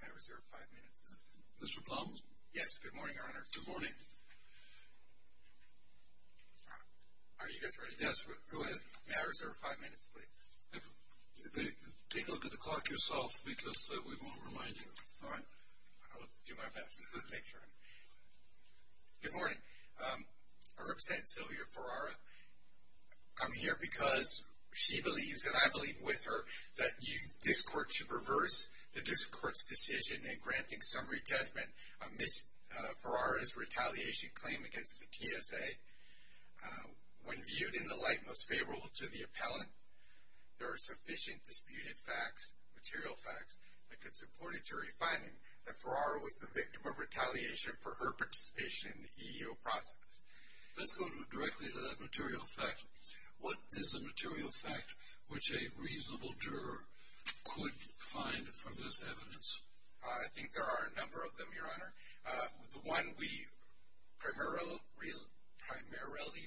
May I reserve five minutes? Mr. Plum? Yes, good morning, Your Honor. Good morning. Are you guys ready? Yes, go ahead. May I reserve five minutes, please? Take a look at the clock yourself because we won't remind you. All right. I'll do my best to make sure. Good morning. I represent Sylvia Ferrara. I'm here because she believes, and I believe with her, that this Court should reverse this Court's decision in granting summary judgment amidst Ferrara's retaliation claim against the TSA. When viewed in the light most favorable to the appellant, there are sufficient disputed facts, material facts, that could support a jury finding that Ferrara was the victim of retaliation for her participation in the EEO process. Let's go directly to that material fact. What is a material fact which a reasonable juror could find from this evidence? I think there are a number of them, Your Honor. The one we primarily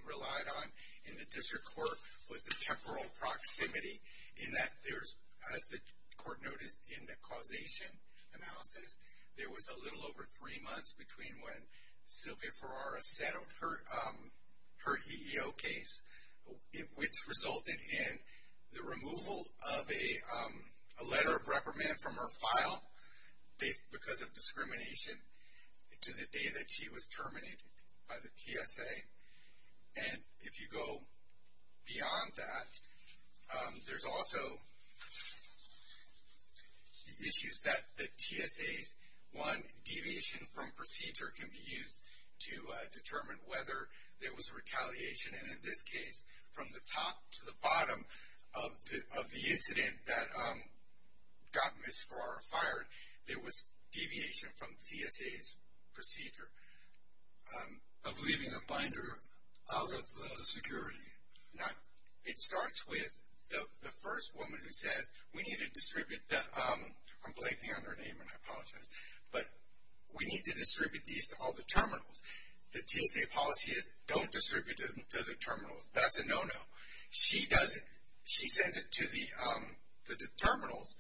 relied on in the District Court was the temporal proximity in that there's, as the Court noticed, in the causation analysis, there was a little over three months between when Sylvia Ferrara settled her EEO case, which resulted in the removal of a letter of reprimand from her file because of discrimination, to the day that she was terminated by the TSA. And if you go beyond that, there's also issues that the TSA's, one, deviation from procedure can be used to determine whether there was retaliation. And in this case, from the top to the bottom of the incident that got Ms. Ferrara fired, there was deviation from TSA's procedure. Of leaving a binder out of the security. Now, it starts with the first woman who says, we need to distribute the, I'm blanking on her name and I apologize, but we need to distribute these to all the terminals. The TSA policy is, don't distribute them to the terminals. That's a no-no. She sends it to the terminals.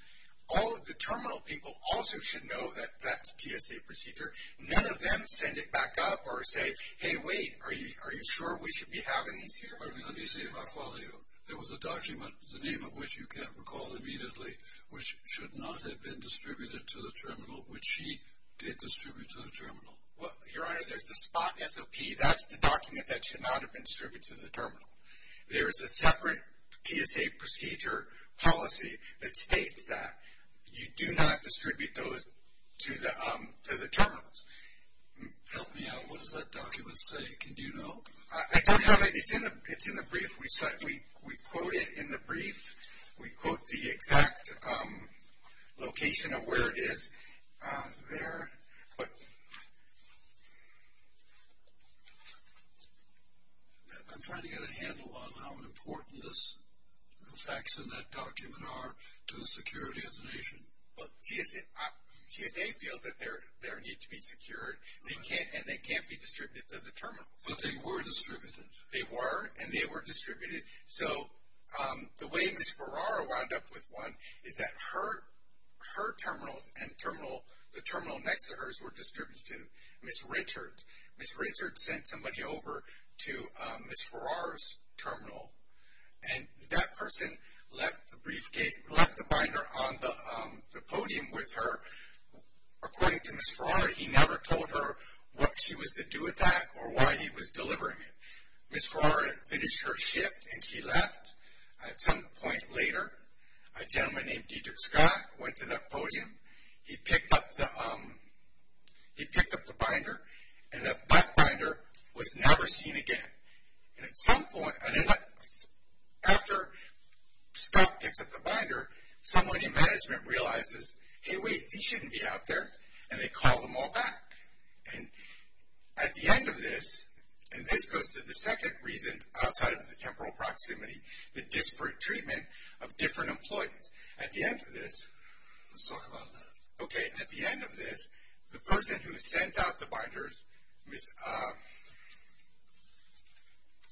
All of the terminal people also should know that that's TSA procedure. None of them send it back up or say, hey, wait, are you sure we should be having these here? Let me see if I follow you. There was a document, the name of which you can't recall immediately, which should not have been distributed to the terminal, which she did distribute to the terminal. Your Honor, there's the spot SOP. That's the document that should not have been distributed to the terminal. There is a separate TSA procedure policy that states that you do not distribute those to the terminals. Help me out. What does that document say? Can you know? I don't have it. It's in the brief. We quote it in the brief. We quote the exact location of where it is there. I'm trying to get a handle on how important the facts in that document are to the security of the nation. Well, TSA feels that they need to be secured, and they can't be distributed to the terminals. But they were distributed. So the way Ms. Ferrara wound up with one is that her terminals and the terminal next to hers were distributed to Ms. Richards. Ms. Richards sent somebody over to Ms. Ferrara's terminal, and that person left the binder on the podium with her. According to Ms. Ferrara, he never told her what she was to do with that or why he was delivering it. Ms. Ferrara finished her shift, and she left. At some point later, a gentleman named Dedrick Scott went to that podium. He picked up the binder, and that binder was never seen again. And at some point, after Scott picks up the binder, somebody in management realizes, hey, wait, these shouldn't be out there, and they call them all back. And at the end of this, and this goes to the second reason outside of the temporal proximity, the disparate treatment of different employees. At the end of this, let's talk about that. Okay, at the end of this, the person who sends out the binders,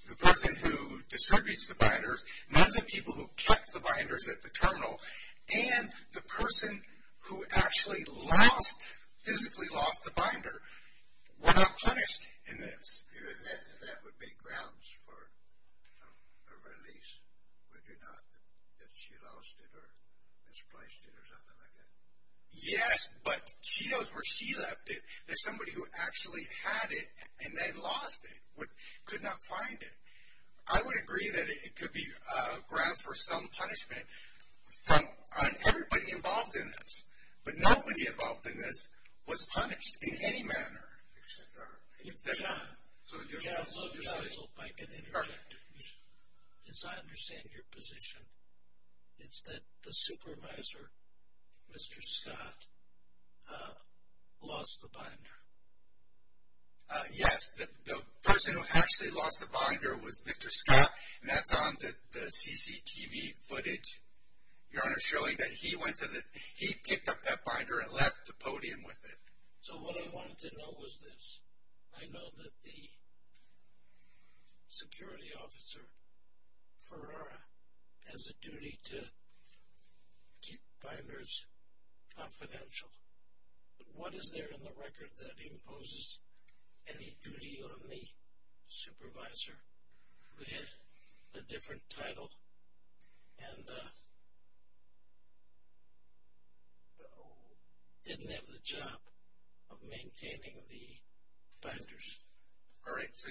the person who distributes the binders, none of the people who kept the binders at the terminal, and the person who actually physically lost the binder were not punished in this. That would be grounds for a release, would you not, that she lost it or misplaced it or something like that? Yes, but she knows where she left it. There's somebody who actually had it, and they lost it, could not find it. I would agree that it could be a ground for some punishment on everybody involved in this. But nobody involved in this was punished in any manner. John, as I understand your position, it's that the supervisor, Mr. Scott, lost the binder. Yes, the person who actually lost the binder was Mr. Scott, and that's on the CCTV footage. Your Honor's showing that he went to the, he picked up that binder and left the podium with it. So what I wanted to know was this. I know that the security officer, Ferrara, has a duty to keep binders confidential. What is there in the record that imposes any duty on the supervisor who had a different title and didn't have the job of maintaining the binders? All right. So,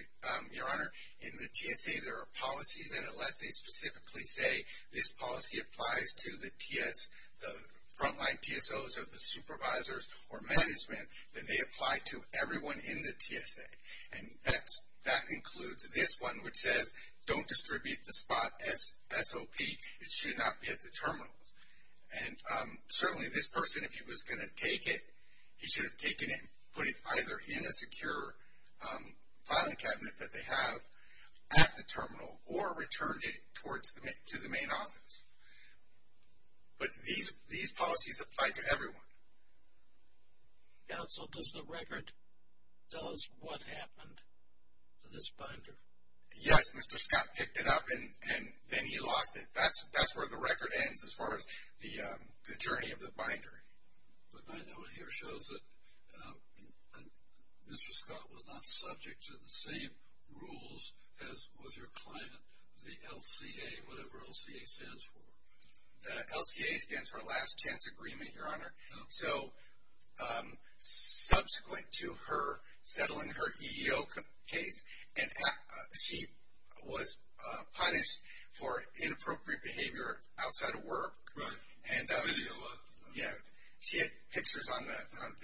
Your Honor, in the TSA, there are policies, and unless they specifically say this policy applies to the TS, the frontline TSOs or the supervisors or management, then they apply to everyone in the TSA. And that includes this one, which says don't distribute the spot SOP. It should not be at the terminals. And certainly this person, if he was going to take it, he should have taken it, put it either in a secure filing cabinet that they have at the terminal or returned it to the main office. But these policies apply to everyone. Counsel, does the record tell us what happened to this binder? Yes, Mr. Scott picked it up and then he lost it. That's where the record ends as far as the journey of the binder. But my note here shows that Mr. Scott was not subject to the same rules as was your client, the LCA, whatever LCA stands for. The LCA stands for last chance agreement, Your Honor. So subsequent to her settling her EEO case, she was punished for inappropriate behavior outside of work. Right. Video. Yeah. She had pictures on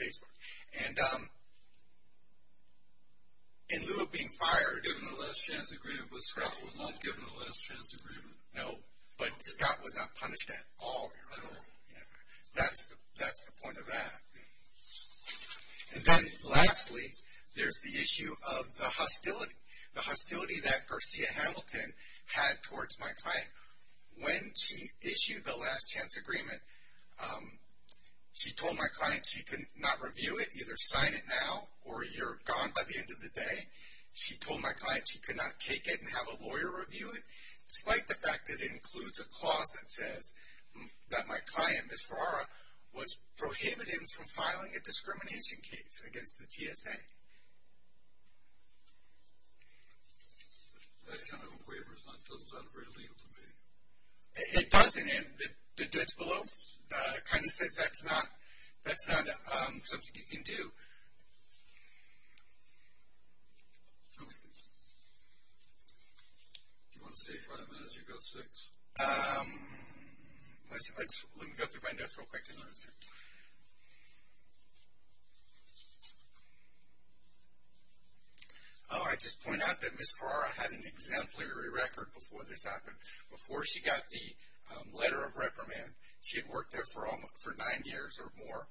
Facebook. And in lieu of being fired. They were given a last chance agreement, but Scott was not given a last chance agreement. No, but Scott was not punished at all, Your Honor. At all. That's the point of that. And then lastly, there's the issue of the hostility, the hostility that Garcia Hamilton had towards my client. When she issued the last chance agreement, she told my client she could not review it, either sign it now or you're gone by the end of the day. She told my client she could not take it and have a lawyer review it, despite the fact that it includes a clause that says that my client, Ms. Ferrara, was prohibited from filing a discrimination case against the GSA. That kind of a waiver doesn't sound very legal to me. It doesn't. And the judge below kind of said that's not something you can do. Do you want to say five minutes? You've got six. Let me go through my notes real quick. Oh, I just point out that Ms. Ferrara had an exemplary record before this happened. Before she got the letter of reprimand, she had worked there for nine years or more.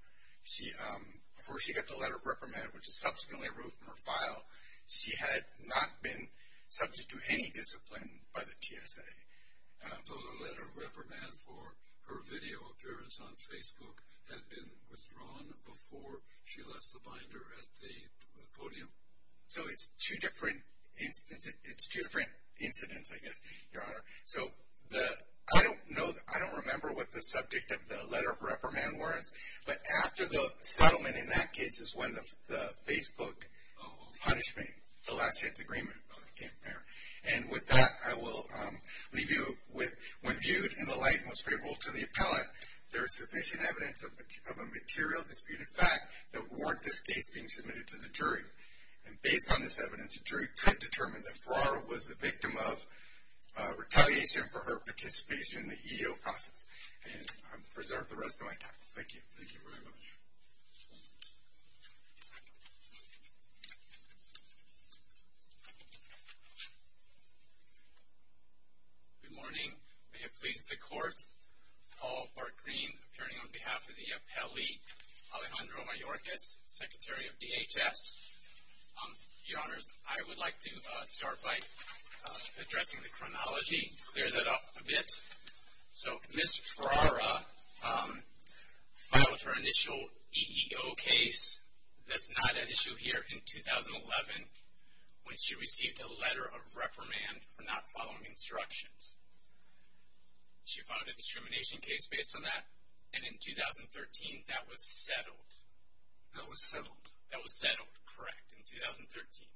Before she got the letter of reprimand, which is subsequently removed from her file, she had not been subject to any discipline by the GSA. So the letter of reprimand for her video appearance on Facebook had been withdrawn before she left the binder at the podium? So it's two different incidents, I guess, Your Honor. So I don't remember what the subject of the letter of reprimand was, but after the settlement in that case is when the Facebook punishment, the last chance agreement came to bear. And with that, I will leave you with, when viewed in the light most favorable to the appellate, there is sufficient evidence of a material disputed fact that warned this case being submitted to the jury. And based on this evidence, a jury could determine that Ferrara was the victim of retaliation for her participation in the EO process. And I'll preserve the rest of my time. Thank you. Thank you very much. Good morning. May it please the Court, Paul Bartgreen, appearing on behalf of the appellee, Alejandro Mayorkas, Secretary of DHS. Your Honors, I would like to start by addressing the chronology, clear that up a bit. So Ms. Ferrara filed her initial EEO case, that's not at issue here, in 2011, when she received a letter of reprimand for not following instructions. She filed a discrimination case based on that. And in 2013, that was settled. That was settled? That was settled, correct, in 2013.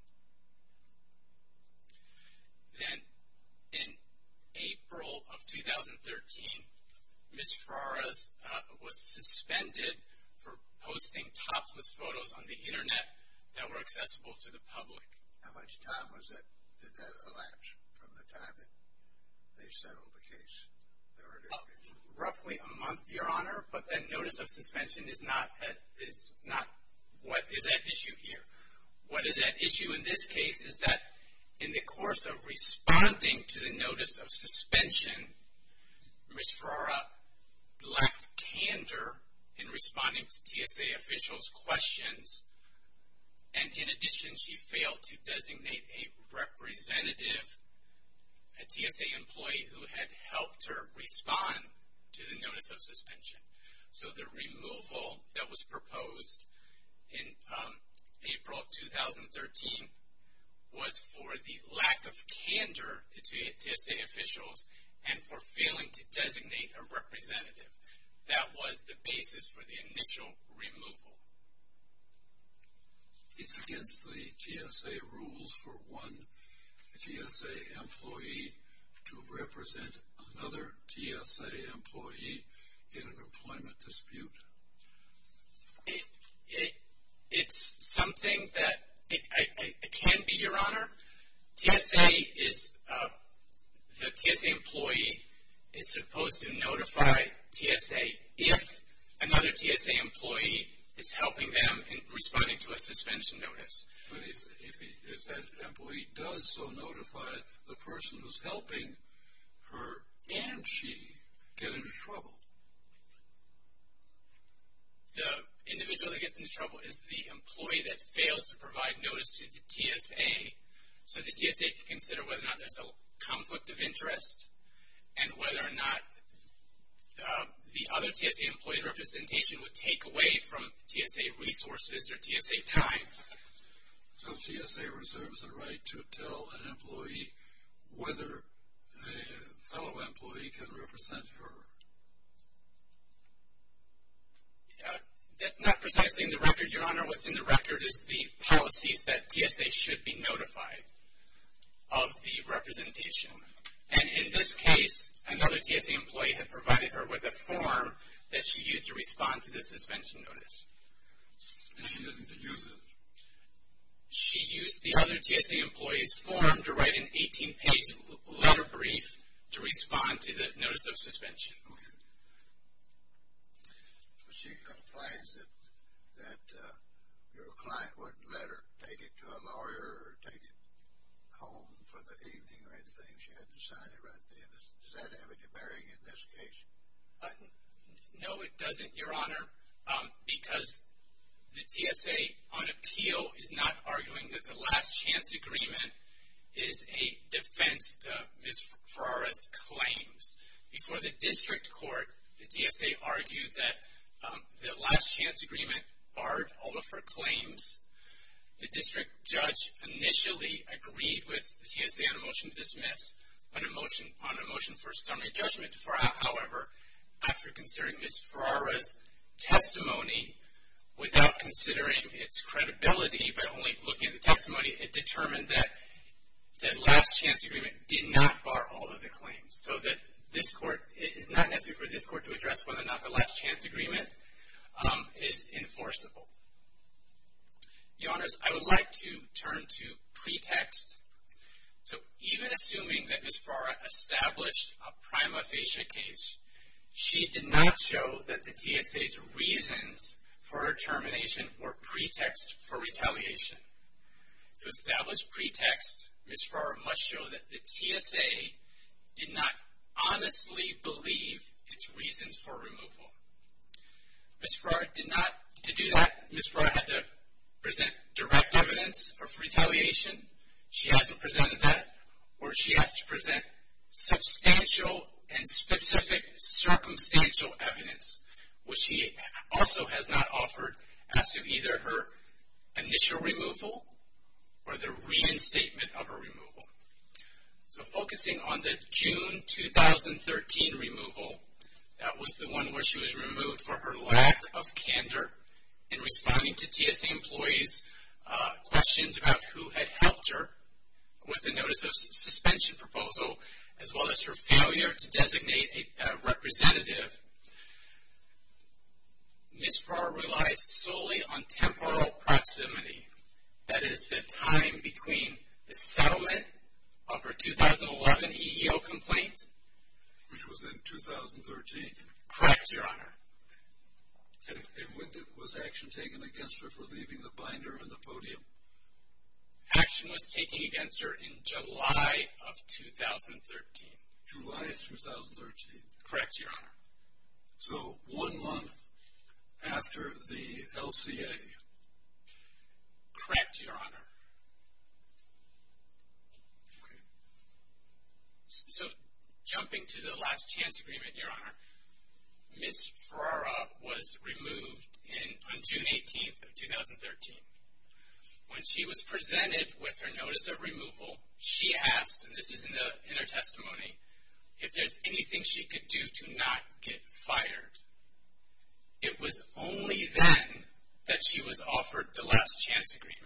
Then in April of 2013, Ms. Ferrara was suspended for posting topless photos on the Internet that were accessible to the public. How much time did that elapse from the time that they settled the case? Roughly a month, Your Honor, but that notice of suspension is not at issue here. What is at issue in this case is that in the course of responding to the notice of suspension, Ms. Ferrara lacked candor in responding to TSA officials' questions, and in addition she failed to designate a representative, a TSA employee who had helped her respond to the notice of suspension. So the removal that was proposed in April of 2013 was for the lack of candor to TSA officials and for failing to designate a representative. That was the basis for the initial removal. It's against the TSA rules for one TSA employee to represent another TSA employee in an employment dispute? It's something that can be, Your Honor. TSA is, the TSA employee is supposed to notify TSA if another TSA employee is helping them in responding to a suspension notice. But if that employee does so notify the person who's helping her and she get into trouble? The individual that gets into trouble is the employee that fails to provide notice to the TSA. So the TSA can consider whether or not there's a conflict of interest and whether or not the other TSA employee's representation would take away from TSA resources or TSA time. So TSA reserves the right to tell an employee whether a fellow employee can represent her? That's not precisely in the record, Your Honor. What's in the record is the policies that TSA should be notified of the representation. And in this case, another TSA employee had provided her with a form that she used to respond to the suspension notice. And she doesn't use it? She used the other TSA employee's form to write an 18-page letter brief to respond to the notice of suspension. Okay. She complains that your client wouldn't let her take it to a lawyer or take it home for the evening or anything. She had to sign it right there. Does that have any bearing in this case? No, it doesn't, Your Honor. Because the TSA on appeal is not arguing that the last chance agreement is a defense to Ms. Ferrara's claims. Before the district court, the TSA argued that the last chance agreement barred all of her claims. The district judge initially agreed with the TSA on a motion to dismiss on a motion for a summary judgment. However, after considering Ms. Ferrara's testimony, without considering its credibility but only looking at the testimony, it determined that the last chance agreement did not bar all of the claims. So it is not necessary for this court to address whether or not the last chance agreement is enforceable. Your Honors, I would like to turn to pretext. So even assuming that Ms. Ferrara established a prima facie case, she did not show that the TSA's reasons for her termination were pretext for retaliation. To establish pretext, Ms. Ferrara must show that the TSA did not honestly believe its reasons for removal. Ms. Ferrara did not. To do that, Ms. Ferrara had to present direct evidence of retaliation. She hasn't presented that, or she has to present substantial and specific circumstantial evidence, which she also has not offered as to either her initial removal or the reinstatement of a removal. So focusing on the June 2013 removal, that was the one where she was removed for her lack of candor in responding to TSA employees' questions about who had helped her with the notice of suspension proposal, as well as her failure to designate a representative, Ms. Ferrara relies solely on temporal proximity. That is the time between the settlement of her 2011 EEO complaint. Which was in 2013. Correct, Your Honor. And when was action taken against her for leaving the binder on the podium? Action was taken against her in July of 2013. July of 2013. Correct, Your Honor. So one month after the LCA. Correct, Your Honor. So jumping to the last chance agreement, Your Honor, Ms. Ferrara was removed on June 18th of 2013. When she was presented with her notice of removal, she asked, and this is in her testimony, if there's anything she could do to not get fired. It was only then that she was offered the last chance agreement.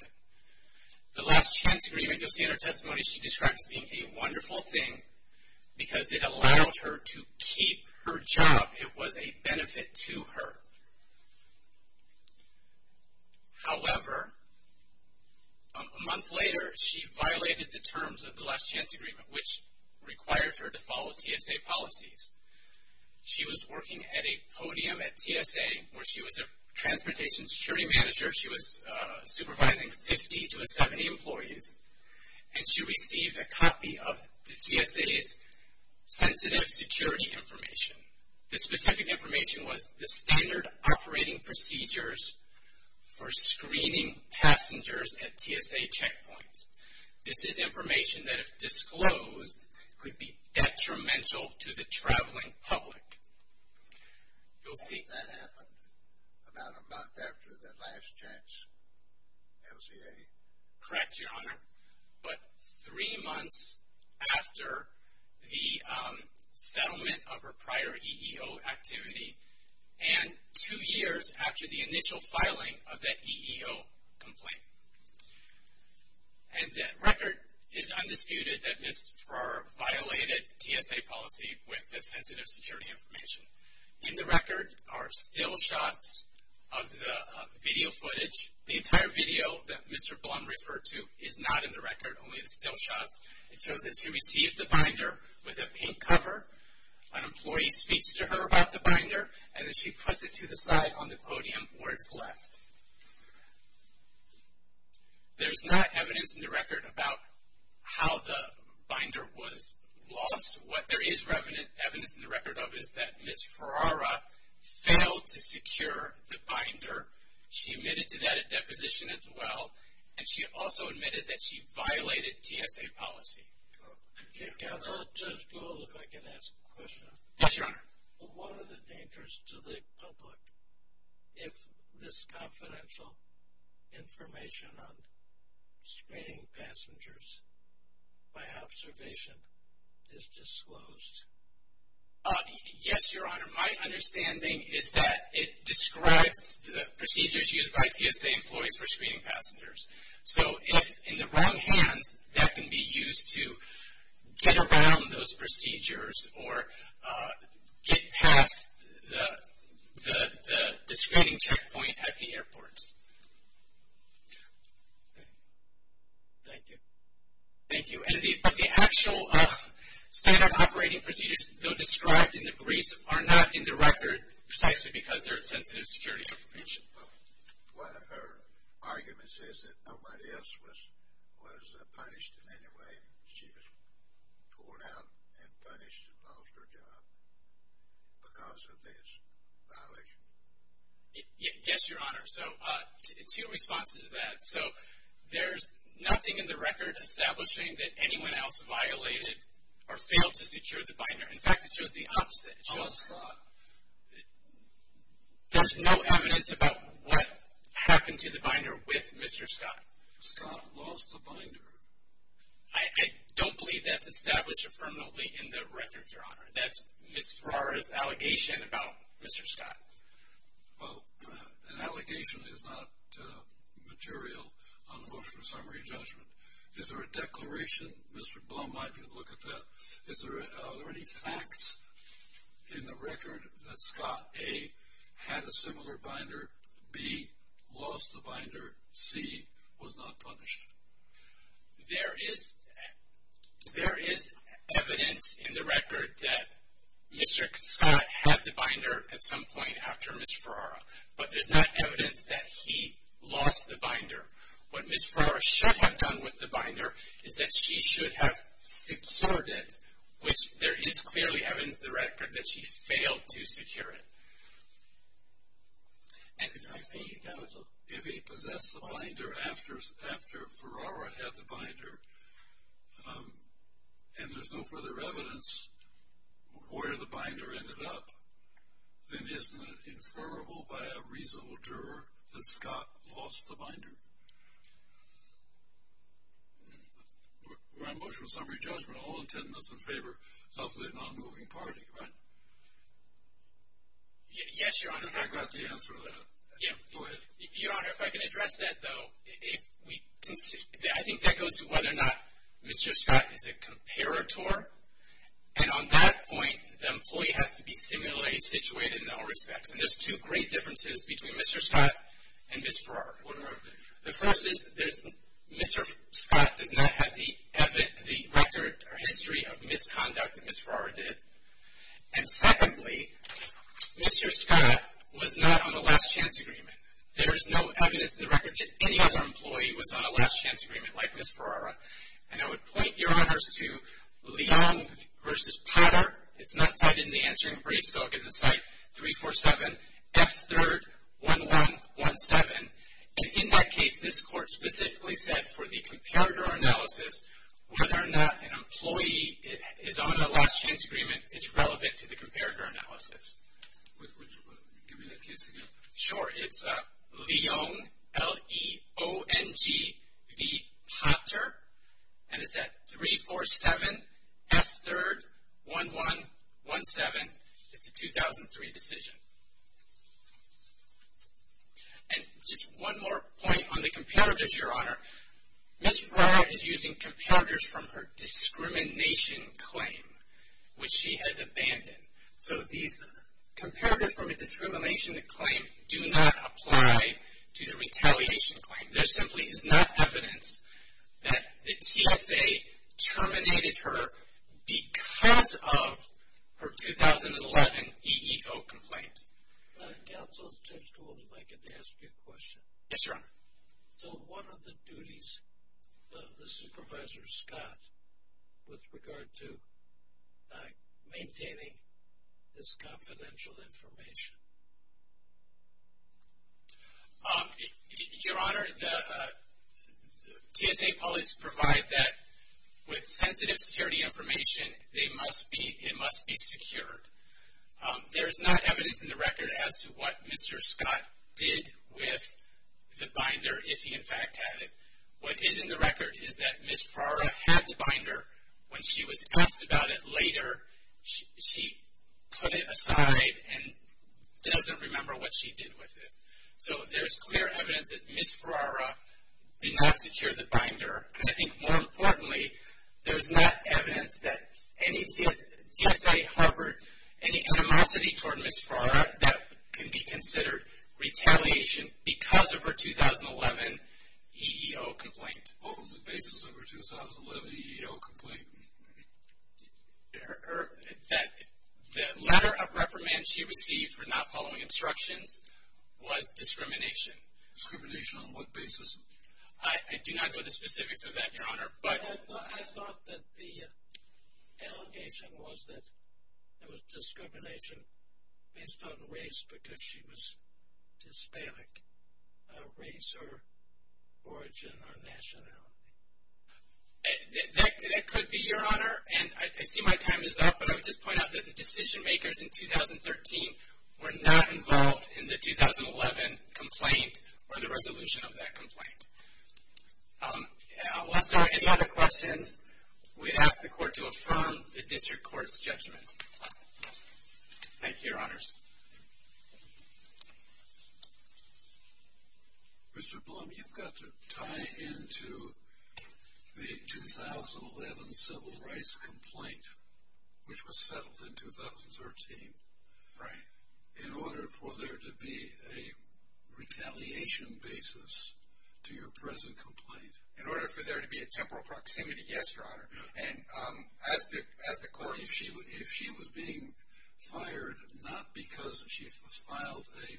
The last chance agreement, you'll see in her testimony, she described as being a wonderful thing because it allowed her to keep her job. It was a benefit to her. However, a month later, she violated the terms of the last chance agreement, which required her to follow TSA policies. She was working at a podium at TSA where she was a transportation security manager. She was supervising 50 to 70 employees. And she received a copy of the TSA's sensitive security information. The specific information was the standard operating procedures for screening passengers at TSA checkpoints. This is information that, if disclosed, could be detrimental to the traveling public. You'll see. That happened about a month after the last chance LCA. Correct, Your Honor. But three months after the settlement of her prior EEO activity, and two years after the initial filing of that EEO complaint. And that record is undisputed that Ms. Farrar violated TSA policy with the sensitive security information. In the record are still shots of the video footage. The entire video that Mr. Blum referred to is not in the record, only the still shots. It shows that she received the binder with a pink cover. An employee speaks to her about the binder, and then she puts it to the side on the podium where it's left. There's not evidence in the record about how the binder was lost. What there is evidence in the record of is that Ms. Farrar failed to secure the binder. She admitted to that at deposition as well, and she also admitted that she violated TSA policy. Counsel, if I could ask a question. Yes, Your Honor. What are the dangers to the public if this confidential information on screening passengers by observation is disclosed? Yes, Your Honor. My understanding is that it describes the procedures used by TSA employees for screening passengers. So if in the wrong hands, that can be used to get around those procedures or get past the screening checkpoint at the airport. Thank you. Thank you. But the actual standard operating procedures, though described in the briefs, are not in the record precisely because they're sensitive security information. One of her arguments is that nobody else was punished in any way. She was pulled out and punished and lost her job because of this violation. Yes, Your Honor. So two responses to that. So there's nothing in the record establishing that anyone else violated or failed to secure the binder. In fact, it shows the opposite. Lost Scott. There's no evidence about what happened to the binder with Mr. Scott. Scott lost the binder. I don't believe that's established affirmatively in the record, Your Honor. That's Ms. Farrar's allegation about Mr. Scott. Well, an allegation is not material on a motion for summary judgment. Is there a declaration? Mr. Blum might be able to look at that. Are there any facts in the record that Scott, A, had a similar binder? B, lost the binder. C, was not punished. There is evidence in the record that Mr. Scott had the binder at some point after Ms. Farrar, but there's not evidence that he lost the binder. What Ms. Farrar should have done with the binder is that she should have secured it, which there is clearly evidence in the record that she failed to secure it. And I think that if he possessed the binder after Farrar had the binder and there's no further evidence where the binder ended up, then isn't it informable by a reasonable juror that Scott lost the binder? We're on motion for summary judgment. All intent and that's in favor of the non-moving party, right? Yes, Your Honor. And I got the answer to that. Go ahead. Your Honor, if I can address that, though, I think that goes to whether or not Mr. Scott is a comparator. And on that point, the employee has to be similarly situated in all respects. And there's two great differences between Mr. Scott and Ms. Farrar. The first is Mr. Scott does not have the record or history of misconduct that Ms. Farrar did. And secondly, Mr. Scott was not on the last chance agreement. There is no evidence in the record that any other employee was on a last chance agreement like Ms. Farrar. And I would point Your Honors to Leong v. Potter. It's not cited in the answering brief. So I'll give the cite 347F3RD1117. And in that case, this court specifically said for the comparator analysis, whether or not an employee is on a last chance agreement is relevant to the comparator analysis. Would you give me that case again? Sure. It's Leong v. Potter. And it's at 347F3RD1117. It's a 2003 decision. And just one more point on the comparators, Your Honor. Ms. Farrar is using comparators from her discrimination claim, which she has abandoned. So these comparators from a discrimination claim do not apply to the retaliation claim. There simply is not evidence that the TSA terminated her because of her 2011 EEO complaint. Counsel, Judge Gould, if I could ask you a question. Yes, Your Honor. So what are the duties of the Supervisor Scott with regard to maintaining this confidential information? Your Honor, the TSA police provide that with sensitive security information, it must be secured. There is not evidence in the record as to what Mr. Scott did with the binder, if he in fact had it. What is in the record is that Ms. Farrar had the binder. When she was asked about it later, she put it aside and doesn't remember what she did with it. So there's clear evidence that Ms. Farrar did not secure the binder. And I think more importantly, there's not evidence that any TSA harbored any animosity toward Ms. Farrar that can be considered retaliation because of her 2011 EEO complaint. What was the basis of her 2011 EEO complaint? The letter of reprimand she received for not following instructions was discrimination. Discrimination on what basis? I do not know the specifics of that, Your Honor. But I thought that the allegation was that it was discrimination based on race because she was Hispanic, race or origin or nationality. That could be, Your Honor. And I see my time is up, but I would just point out that the decision makers in 2013 were not involved in the 2011 complaint or the resolution of that complaint. Are there any other questions? We ask the Court to affirm the District Court's judgment. Thank you, Your Honors. Mr. Blum, you've got to tie into the 2011 civil rights complaint, which was settled in 2013, in order for there to be a retaliation basis to your present complaint. In order for there to be a temporal proximity, yes, Your Honor. If she was being fired not because she filed a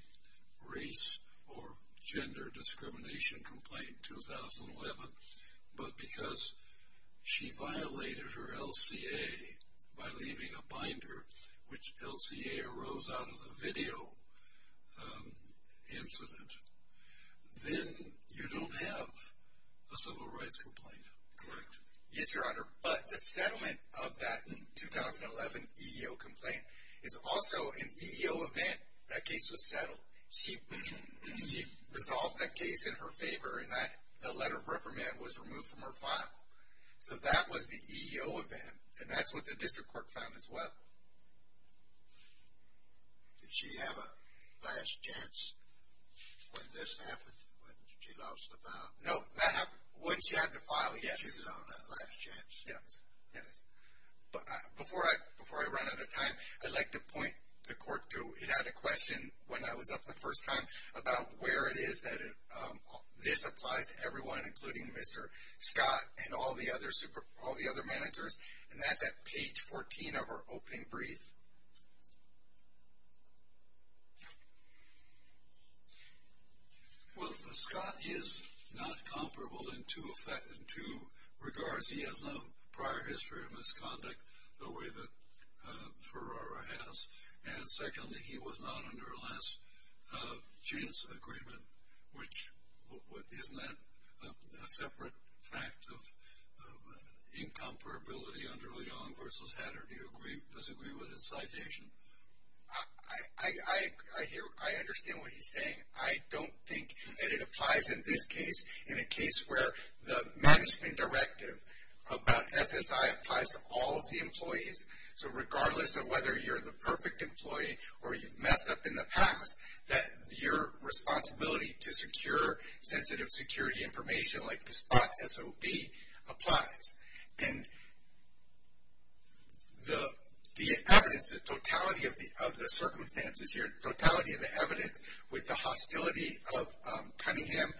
race or gender discrimination complaint in 2011, but because she violated her LCA by leaving a binder, which LCA arose out of a video incident, then you don't have a civil rights complaint, correct? Yes, Your Honor. But the settlement of that 2011 EEO complaint is also an EEO event. That case was settled. She resolved that case in her favor, and that letter of reprimand was removed from her file. So that was the EEO event, and that's what the District Court found as well. Did she have a last chance when this happened, when she lost the file? No, that happened when she had the file, yes. She did not have a last chance. Yes, yes. But before I run out of time, I'd like to point the Court to, it had a question when I was up the first time, about where it is that this applies to everyone, including Mr. Scott and all the other managers, and that's at page 14 of our opening brief. Well, Scott is not comparable in two regards. He has no prior history of misconduct the way that Ferrara has, and secondly, he was not under a last chance agreement, which isn't that a separate fact of incomparability under Leong versus Hatter? Or do you disagree with his citation? I understand what he's saying. I don't think that it applies in this case, in a case where the management directive about SSI applies to all of the employees. So regardless of whether you're the perfect employee or you've messed up in the past, that your responsibility to secure sensitive security information like the spot SOB applies. And the evidence, the totality of the circumstances here, the totality of the evidence with the hostility of Cunningham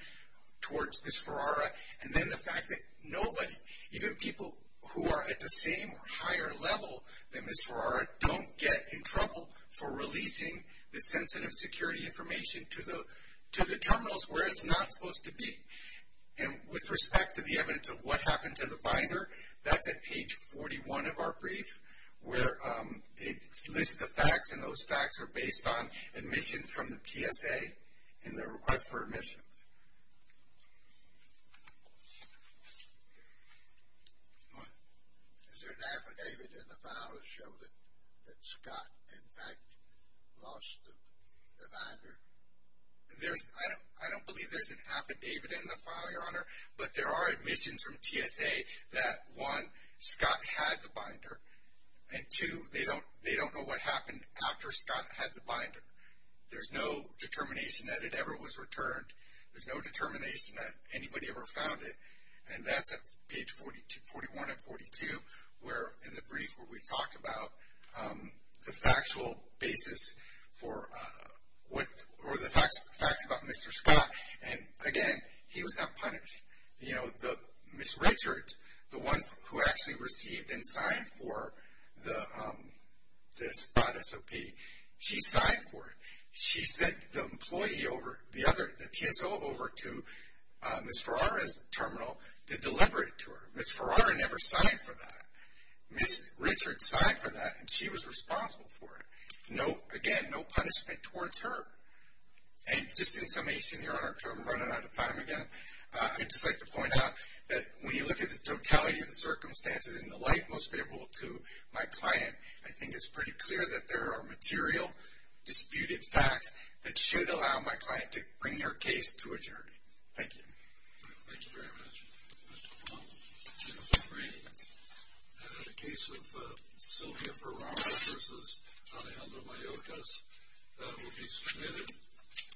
towards Ms. Ferrara, and then the fact that nobody, even people who are at the same or higher level than Ms. Ferrara, don't get in trouble for releasing the sensitive security information to the terminals where it's not supposed to be. And with respect to the evidence of what happened to the binder, that's at page 41 of our brief, where it lists the facts, and those facts are based on admissions from the TSA and their request for admissions. Go ahead. Is there an affidavit in the file that shows that Scott, in fact, lost the binder? I don't believe there's an affidavit in the file, Your Honor, but there are admissions from TSA that, one, Scott had the binder, and two, they don't know what happened after Scott had the binder. There's no determination that it ever was returned. There's no determination that anybody ever found it. And that's at page 41 and 42 in the brief where we talk about the factual basis for what, or the facts about Mr. Scott. And, again, he was not punished. You know, Ms. Richard, the one who actually received and signed for the spot SOP, she signed for it. She sent the TSO over to Ms. Ferrara's terminal to deliver it to her. Ms. Ferrara never signed for that. Ms. Richard signed for that, and she was responsible for it. Again, no punishment towards her. And just in summation, Your Honor, in case I'm running out of time again, I'd just like to point out that when you look at the totality of the circumstances in the light most favorable to my client, I think it's pretty clear that there are material disputed facts that should allow my client to bring her case to adjournment. Thank you. Thank you very much. If I may, in the case of Sylvia Ferrara v. Alejandro Mayorkas, that will be submitted.